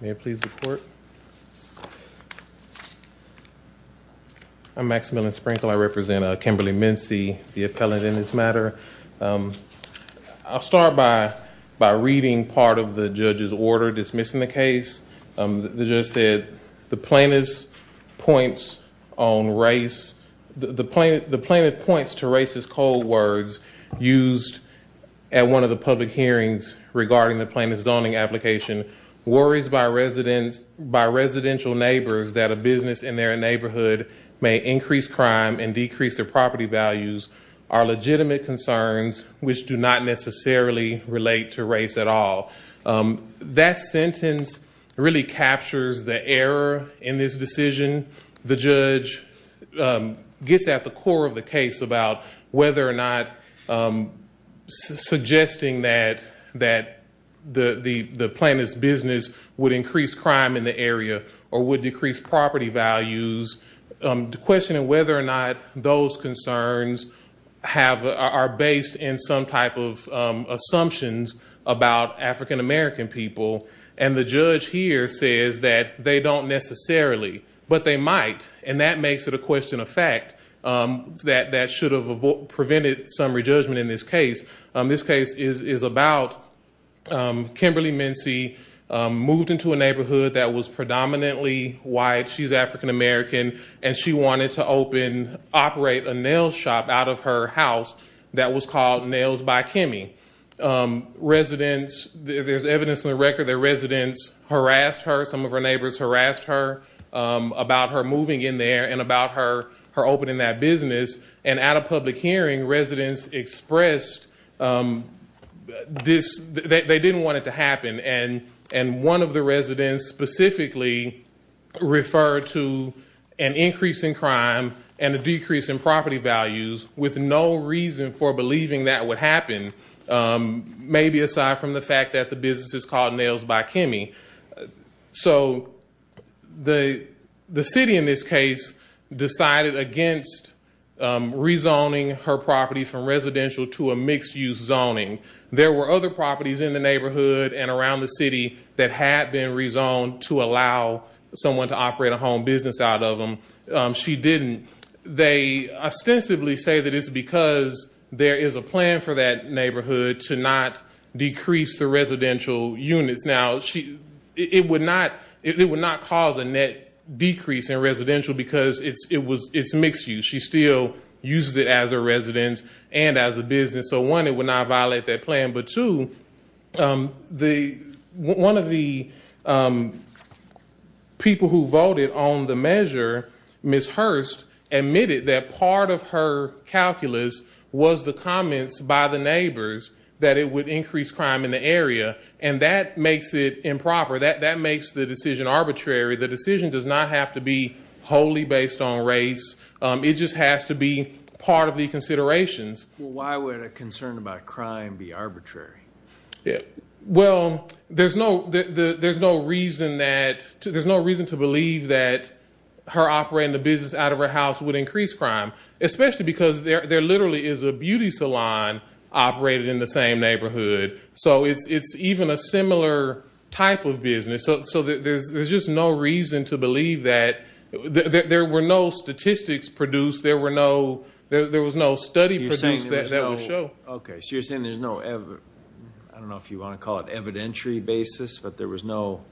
Mayor, please report. I'm Maximillian Sprinkle. I represent Kimberly Mensie, the appellant in this matter. I'll start by reading part of the judge's order dismissing the case. The judge said, the plaintiff points to racist cold words used at one of the public hearings regarding the plaintiff's zoning application. Worries by residential neighbors that a business in their neighborhood may increase crime and decrease their property values are legitimate concerns which do not necessarily relate to race at all. That sentence really captures the error in this decision. The judge gets at the core of the case about whether or not suggesting that the plaintiff's business would increase crime in the area or would decrease property values, questioning whether or not those concerns are based in some type of assumptions about African American people. And the judge here says that they don't necessarily, but they might. And that makes it a question of fact that should have prevented some re-judgment in this case. This case is about Kimberly Mensie, moved into a neighborhood that was white, she's African American, and she wanted to open, operate a nail shop out of her house that was called Nails by Kimmy. Residents, there's evidence in the record that residents harassed her, some of her neighbors harassed her about her moving in there and about her opening that business. And at a public hearing, residents expressed this, they didn't want it to happen. And one of the residents specifically referred to an increase in crime and a decrease in property values with no reason for believing that would happen, maybe aside from the fact that the business is called Nails by Kimmy. So the city in this case decided against re-zoning her property from residential to a mixed use zoning. There were other properties in the neighborhood and around the city that had been re-zoned to allow someone to operate a home business out of them. She didn't. They ostensibly say that it's because there is a plan for that neighborhood to not decrease the residential units. Now, it would not cause a net decrease in residential because it's mixed use. She still uses it as a residence and as a business. So one, it would not violate that plan. But two, one of the people who voted on the measure, Ms. Hurst, admitted that part of her calculus was the comments by the neighbors that it would increase crime in the area. And that makes it improper. That makes the decision arbitrary. The decision does not have to be wholly based on race. It just has to be part of the considerations. Well, why would a concern about crime be arbitrary? Well, there's no reason to believe that her operating the business out of her house would increase crime, especially because there literally is a beauty salon operated in the same neighborhood. So it's even a similar type of business. So there's just no reason to believe that. There were no statistics produced. There was no study produced that would show. Okay. So you're saying there's no, I don't know if you want to call it evidentiary basis, but there was no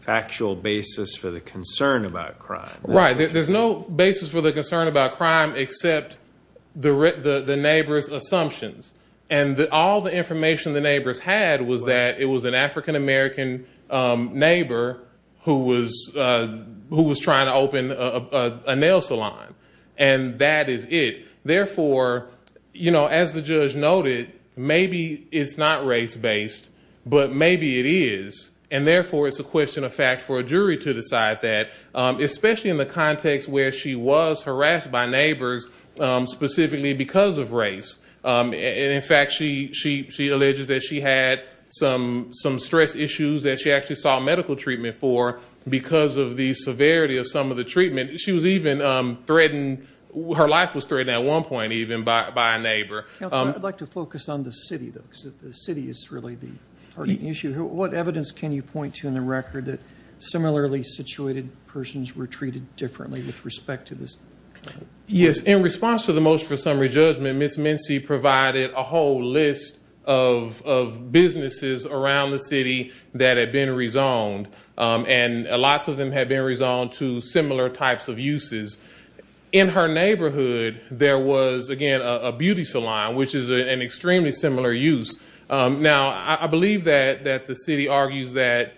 factual basis for the concern about crime. Right. There's no basis for the concern about crime except the neighbor's assumptions. And all the information the neighbors had was that it was an African-American neighbor who was trying to open a nail salon. And that is it. Therefore, as the judge noted, maybe it's not race-based, but maybe it is. And therefore it's a question of fact for a jury to decide that, especially in the context where she was harassed by neighbors specifically because of race. And in fact, she alleges that she had some stress issues that she actually sought medical treatment for because of the severity of some of the treatment she was even threatened. Her life was threatened at one point, even by a neighbor. I'd like to focus on the city though, because the city is really the issue. What evidence can you point to in the record that similarly situated persons were treated differently with respect to this? Yes. In response to the motion for summary judgment, Ms. Mincy provided a whole list of businesses around the city that had been rezoned. And lots of them had been rezoned to similar types of uses. In her neighborhood, there was, again, a beauty salon, which is an extremely similar use. Now, I believe that the city argues that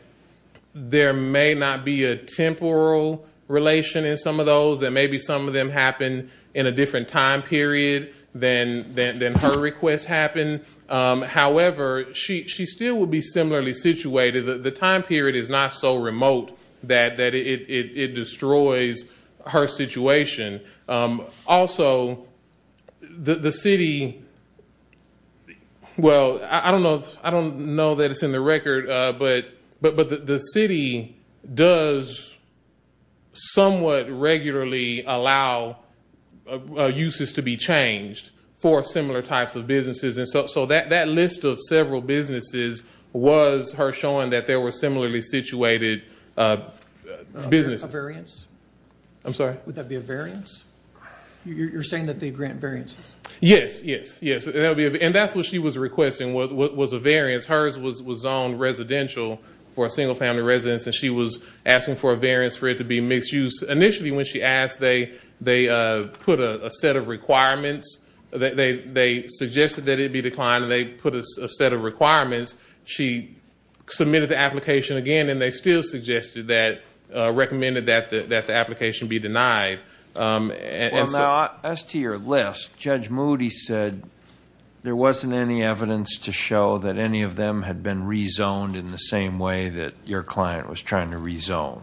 there may not be a temporal relation in some of those, that maybe some of them happened in a different time period than her request happened. However, she still would be similarly situated. The time period is not so remote that it destroys her situation. Also, the city, well, I don't know that it's in the record, but the city does somewhat regularly allow uses to be changed for similar types of businesses. So that list of several businesses was her showing that there were similarly situated businesses. A variance? I'm sorry? Would that be a variance? You're saying that they grant variances? Yes, yes, yes. And that's what she was requesting, was a variance. Hers was zoned residential for a single family residence, and she was asking for a variance for it to be mixed use. Initially, when she asked, they put a set of requirements. They suggested that it be declined, and they put a set of requirements. She submitted the application again, and they still suggested that, recommended that the application be denied. Well, now, as to your list, Judge Moody said there wasn't any evidence to show that any of them had been rezoned in the same way that your client was trying to rezone,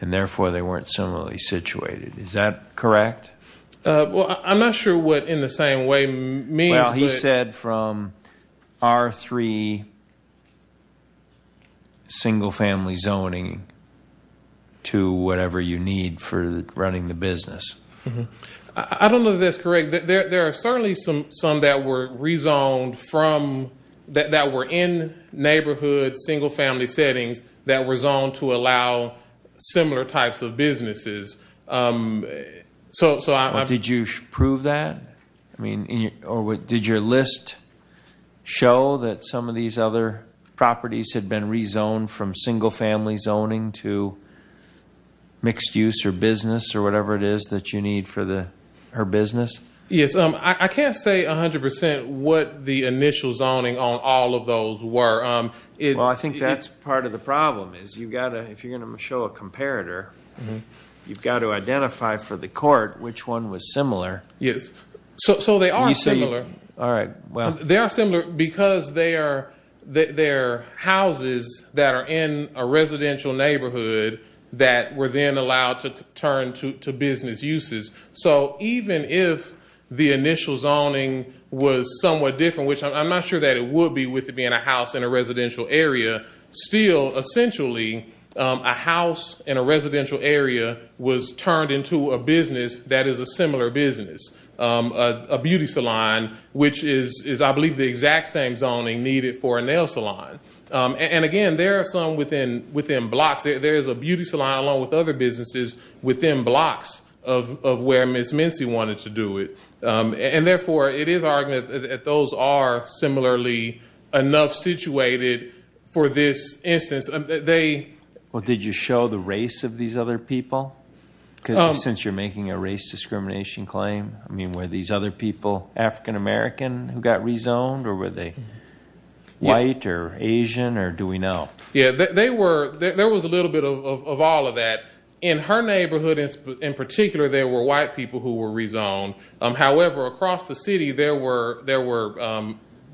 and therefore they weren't similarly situated. Is that correct? Well, I'm not sure what in the same way means, but... I don't know that that's correct. There are certainly some that were rezoned from... that were in neighborhood single family settings that were zoned to allow similar types of businesses. Did you prove that? I mean, did your list show that some of these other properties had been rezoned from single family zoning to mixed use or business or whatever it is that you need for her business? Yes. I can't say 100% what the initial zoning on all of those were. Well, I think that's part of the problem is you've got to... if you're going to show a comparator, you've got to identify for the court which one was similar. Yes. So, they are similar. All right. Well... They are similar because they are houses that are in a residential neighborhood that were then allowed to turn to business uses. So, even if the initial zoning was somewhat different, which I'm not sure that it would be with it being a house in a residential area, still essentially a house in a residential area was turned into a business that is a similar business, a beauty salon, which is, I believe, the exact same zoning needed for a nail salon. And again, there are some within blocks. There is a beauty salon along with other businesses within blocks of where Ms. Mincy wanted to do it. And therefore, it is arguable that those are similarly enough situated for this instance. Well, did you show the race of these other people? Because since you're making a race discrimination claim, I mean, were these other people African American who got rezoned or were they white or Asian or do we know? Yes. There was a little bit of all of that. In her neighborhood, in particular, there were white people who were rezoned. However, across the city, there were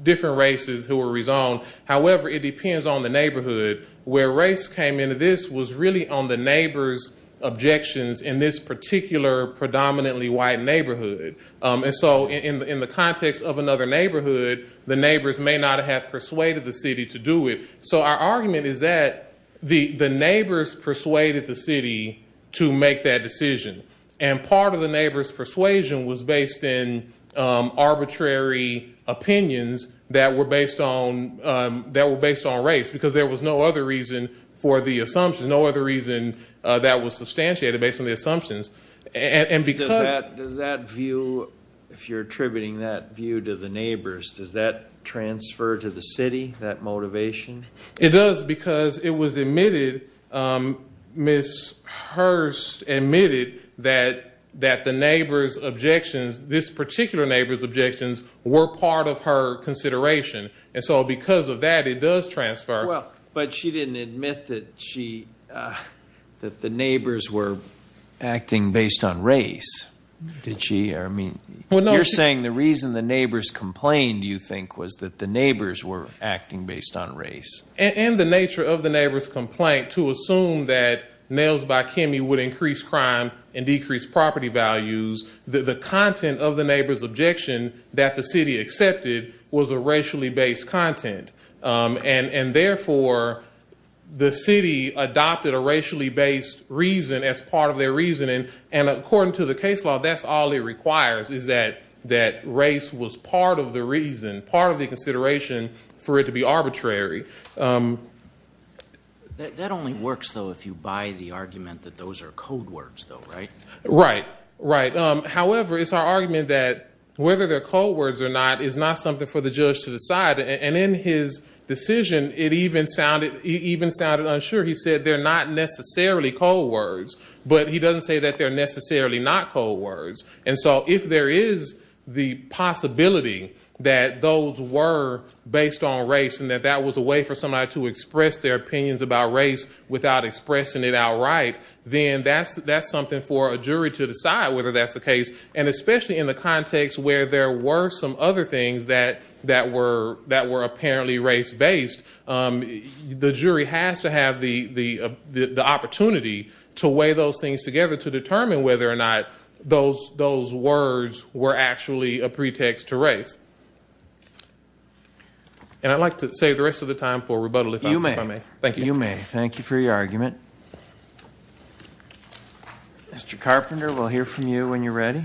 different races who were rezoned. However, it depends on the neighborhood. Where race came into this was really on the neighbor's objections in this particular predominantly white neighborhood. In the context of another neighborhood, the neighbors may not have persuaded the city to do it. Our argument is that the neighbors persuaded the city to make that decision. Part of the neighbor's persuasion was based in arbitrary opinions that were based on race because there was no other reason for the assumptions, no other reason that was substantiated based on the assumptions. Does that view, if you're attributing that view to the neighbors, does that transfer to the city, that motivation? It does because it was admitted, Ms. Hurst admitted that the neighbor's objections, this particular neighbor's objections, were part of her consideration. And so because of that, it does transfer. But she didn't admit that the neighbors were acting based on race, did she? You're saying the reason the neighbors complained, do you think, was that the neighbors were acting based on race? In the nature of the neighbor's complaint, to assume that Nails by Kimmy would increase crime and decrease property values, the content of the neighbor's objection that the city accepted was a racially based content. And therefore, the city adopted a racially based reason as part of their reasoning. And according to the case law, that's all it requires, is that race was part of the reason, part of the consideration for it to be arbitrary. That only works, though, if you buy the argument that those are code words, though, right? Right, right. However, it's our argument that whether they're code words or not is not something for the judge to decide. And in his decision, it even sounded unsure. He said they're not necessarily code words, but he doesn't say that they're necessarily not code words. And so if there is the possibility that those were based on race and that that was a way for somebody to express their opinions about race without expressing it outright, then that's something for a jury to decide whether that's the case. And especially in the context where there were some other things that were apparently race based, the jury has to have the opportunity to weigh those things together to determine whether or not those words were actually a pretext to race. And I'd like to save the rest of the time for rebuttal, if I may. Thank you. You may. Thank you for your argument. Mr. Carpenter, we'll hear from you when you're ready.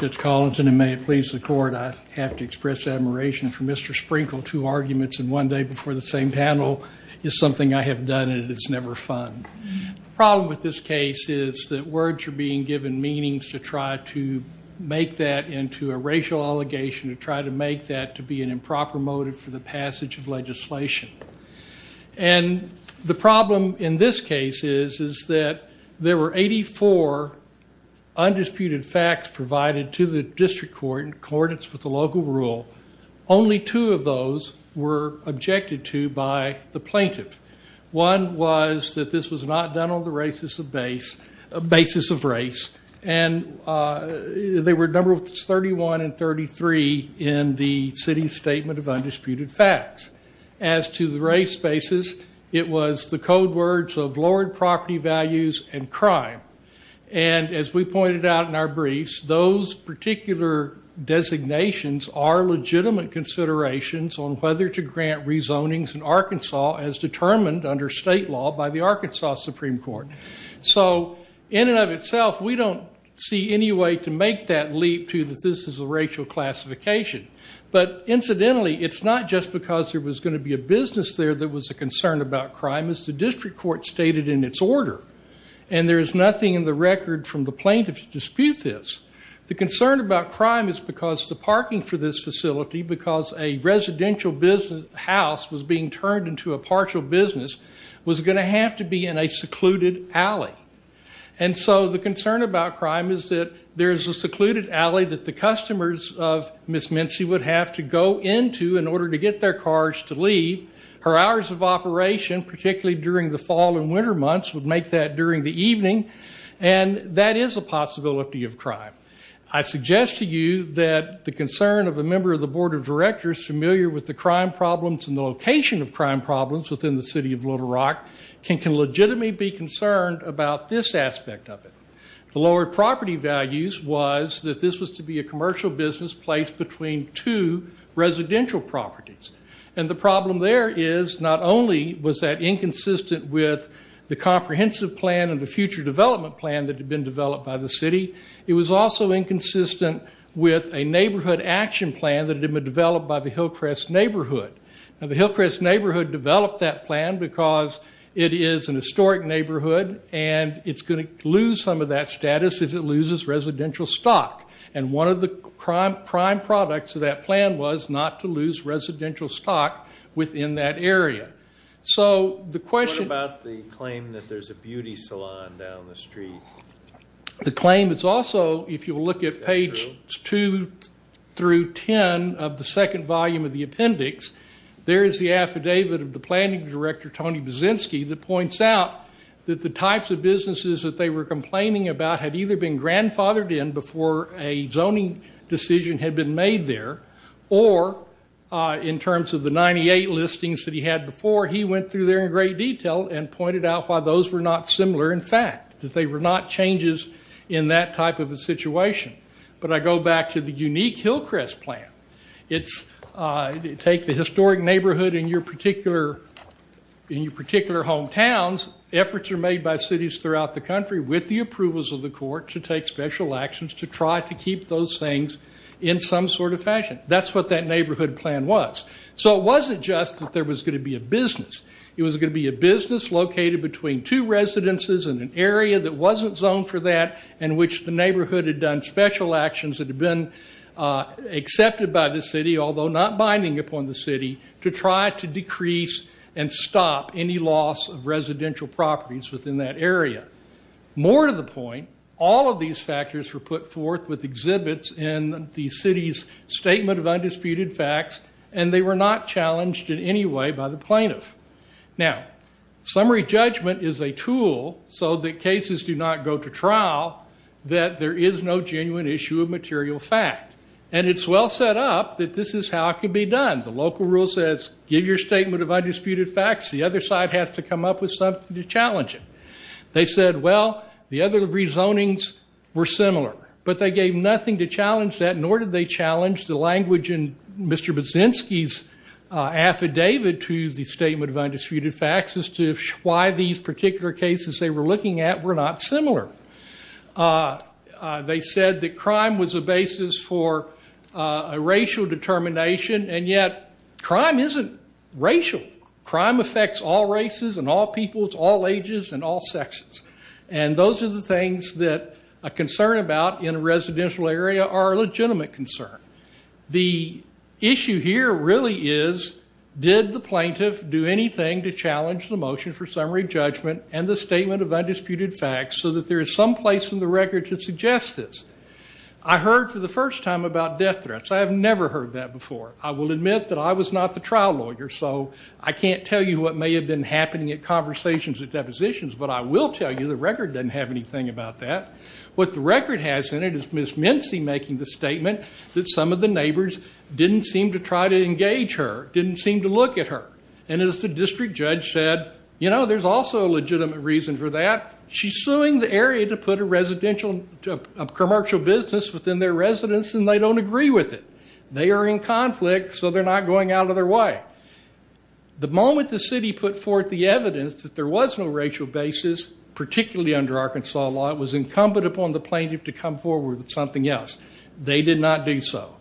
Judge Collington, and may it please the court, I have to express admiration for Mr. Sprinkle. Two arguments in one day before the same panel is something I have done and it is never fun. The problem with this case is that words are being given meanings to try to make that into a racial allegation, to try to make that to be an improper motive for the passage of legislation. And the problem in this case is that there were 84 undisputed facts provided to the district court in accordance with the local rule. Only two of those were objected to by the plaintiff. One was that this was not done on the basis of race. And they were numbers 31 and 33 in the city's statement of undisputed facts. As to the race basis, it was the code words of lowered property values and crime. And as we pointed out in our briefs, those particular designations are legitimate considerations on whether to grant rezonings in Arkansas as determined under state law by the Arkansas Supreme Court. So in and of itself, we don't see any way to make that leap to that this is a racial classification. But incidentally, it's not just because there was going to be a business there that was a concern about crime as the district court stated in its order. And there is nothing in the record from the plaintiff to dispute this. The concern about crime is because the parking for this to a partial business was going to have to be in a secluded alley. And so the concern about crime is that there's a secluded alley that the customers of Ms. Mincy would have to go into in order to get their cars to leave. Her hours of operation, particularly during the fall and winter months, would make that during the evening. And that is a possibility of crime. I suggest to you that the concern of a member of the board of directors familiar with the crime problems and the location of crime problems within the city of Little Rock can legitimately be concerned about this aspect of it. The lower property values was that this was to be a commercial business placed between two residential properties. And the problem there is not only was that inconsistent with the comprehensive plan and the future development plan that had been developed by the city, it was also inconsistent with a neighborhood action plan that had been developed by the Hillcrest Neighborhood. Now, the Hillcrest Neighborhood developed that plan because it is an historic neighborhood and it's going to lose some of that status if it loses residential stock. And one of the prime products of that plan was not to lose residential stock within that area. So the question... What about the claim that there's a beauty of the second volume of the appendix, there is the affidavit of the planning director, Tony Buzzynski, that points out that the types of businesses that they were complaining about had either been grandfathered in before a zoning decision had been made there, or in terms of the 98 listings that he had before, he went through there in great detail and pointed out why those were not similar in fact, that they were not changes in that type of a situation. But I go back to the unique Hillcrest plan. It's... Take the historic neighborhood in your particular hometowns, efforts are made by cities throughout the country with the approvals of the court to take special actions to try to keep those things in some sort of fashion. That's what that neighborhood plan was. So it wasn't just that there was going to be a business. It was going to be a business located between two residences in an area that wasn't zoned for that, in which the neighborhood had done special actions that had been accepted by the city, although not binding upon the city, to try to decrease and stop any loss of residential properties within that area. More to the point, all of these factors were put forth with exhibits in the city's Statement of Undisputed Facts, and they were not challenged in any way by the plaintiff. Now, summary judgment is a tool so that cases do not go to trial, that there is no genuine issue of material fact. And it's well set up that this is how it could be done. The local rule says, give your Statement of Undisputed Facts. The other side has to come up with something to challenge it. They said, well, the other rezonings were similar, but they gave nothing to challenge that, nor did they challenge the language in Mr. Baczynski's affidavit to the Statement of Undisputed Facts as to why these particular cases they were looking at were not similar. They said that crime was a basis for a racial determination, and yet crime isn't racial. Crime affects all races and all peoples, all ages, and all sexes. And those are the things that a concern about in a residential area are a legitimate concern. The issue here really is, did the plaintiff do anything to challenge the motion for summary judgment and the Statement of Undisputed Facts so that there is some place in the record that suggests this? I heard for the first time about death threats. I have never heard that before. I will admit that I was not the trial lawyer, so I can't tell you what may have been happening at conversations at depositions, but I will tell you the record doesn't have anything about that. What the record has in it is Ms. Mincy making the statement that some of the neighbors didn't seem to try to engage her, didn't seem to look at her. And as the district judge said, you know, there's also a legitimate reason for that. She's suing the area to put a commercial business within their residence, and they don't agree with it. They are in conflict, so they're not going out of their way. The moment the city put forth the evidence that there was no racial basis, particularly under Arkansas law, it was incumbent upon the plaintiff to come forward with something else. They did not do so.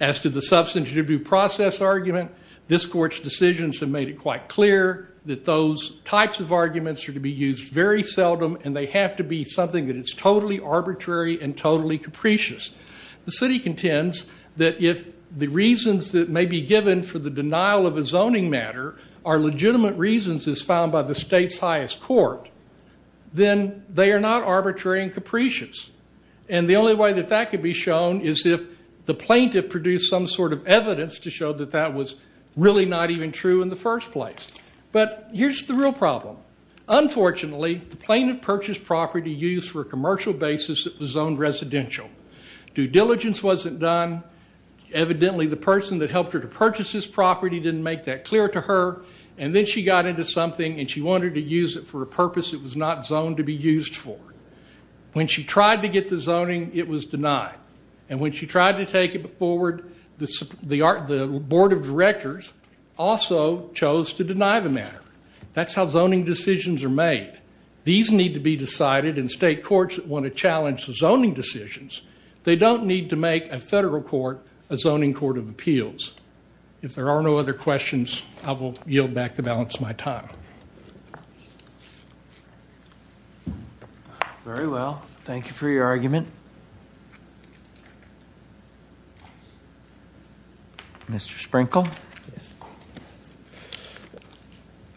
As to the substantive due process argument, this court's decisions have made it quite clear that those types of arguments are to be used very seldom, and they have to be something that is totally arbitrary and totally capricious. The city contends that if the reasons that may be given for the denial of a zoning matter are legitimate reasons as found by the state's highest court, then they are not arbitrary and capricious. And the only way that that could be shown is if the plaintiff produced some sort of evidence to show that that was really not even true in the first place. But here's the real problem. Unfortunately, the plaintiff purchased property used for a commercial basis that was zoned residential. Due diligence wasn't done. Evidently, the person that helped her to purchase this property didn't make that clear to her, and then she got into something and she wanted to use it for a purpose it was not zoned to be used for. When she tried to get the zoning, it was denied. And when she tried to take it forward, the board of directors also chose to deny the matter. That's how zoning decisions are made. These need to be decided, and state courts that want to challenge the zoning decisions, they don't need to make a federal court a I will yield back the balance of my time. Very well. Thank you for your argument. Mr. Sprinkle?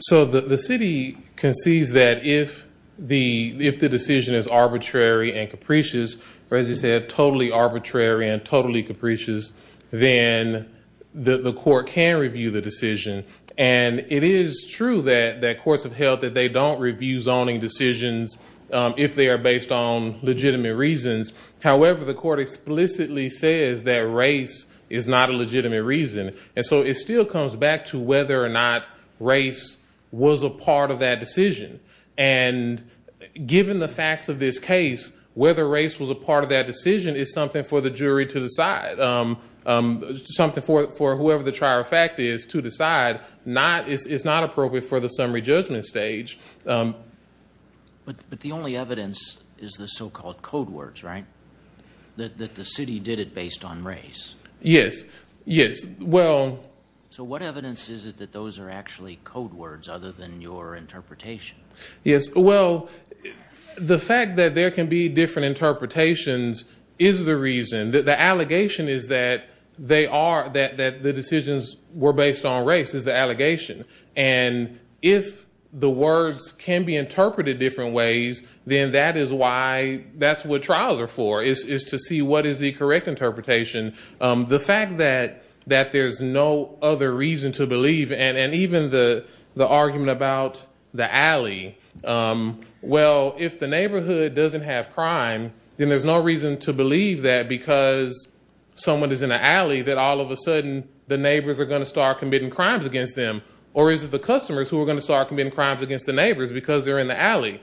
So the city concedes that if the decision is arbitrary and capricious, or as you said, it is true that courts have held that they don't review zoning decisions if they are based on legitimate reasons. However, the court explicitly says that race is not a legitimate reason. And so it still comes back to whether or not race was a part of that decision. And given the facts of this case, whether race was a part of that decision is something for the jury to decide. It's something for whoever the trier of fact is to decide. It's not appropriate for the summary judgment stage. But the only evidence is the so-called code words, right? That the city did it based on race. Yes. Yes. Well... So what evidence is it that those are actually code words other than your interpretation? Yes. Well, the fact that there can be different interpretations is the reason. The allegation is that they are, that the decisions were based on race is the allegation. And if the words can be interpreted different ways, then that is why, that's what trials are for, is to see what is the correct interpretation. The fact that there's no other reason to believe, and even the argument about the alley, well, if the neighborhood doesn't have crime, then there's no reason to believe that because someone is in an alley that all of a sudden the neighbors are going to start committing crimes against them. Or is it the customers who are going to start committing crimes against the neighbors because they're in the alley?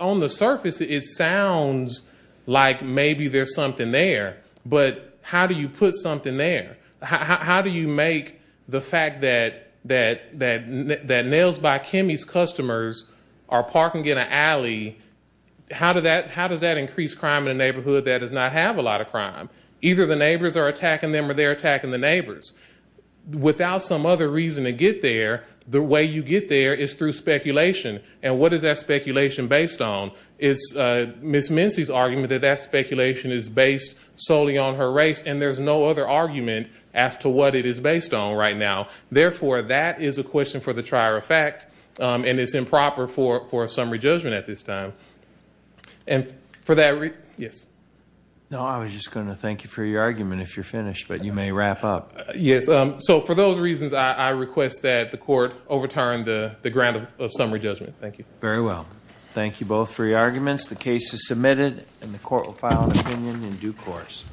On the surface, it sounds like maybe there's something there, but how do you put something there? How do you make the fact that Nails by Kimmy's customers are parking in an alley, how does that increase crime in a neighborhood that does not have a lot of crime? Either the neighbors are attacking them or they're attacking the neighbors. Without some other reason to get there, the way you get there is through speculation. And what is that speculation based on? It's Ms. Mincy's argument that that speculation is based solely on her race, and there's no other argument as to what it is based on right now. Therefore, that is a question for the trier of fact, and it's improper for a summary judgment at this time. No, I was just going to thank you for your argument if you're finished, but you may wrap up. Yes, so for those reasons, I request that the court overturn the grant of summary judgment. Thank you. Very well. Thank you both for your arguments. The case is submitted, and the court will file an opinion in due course.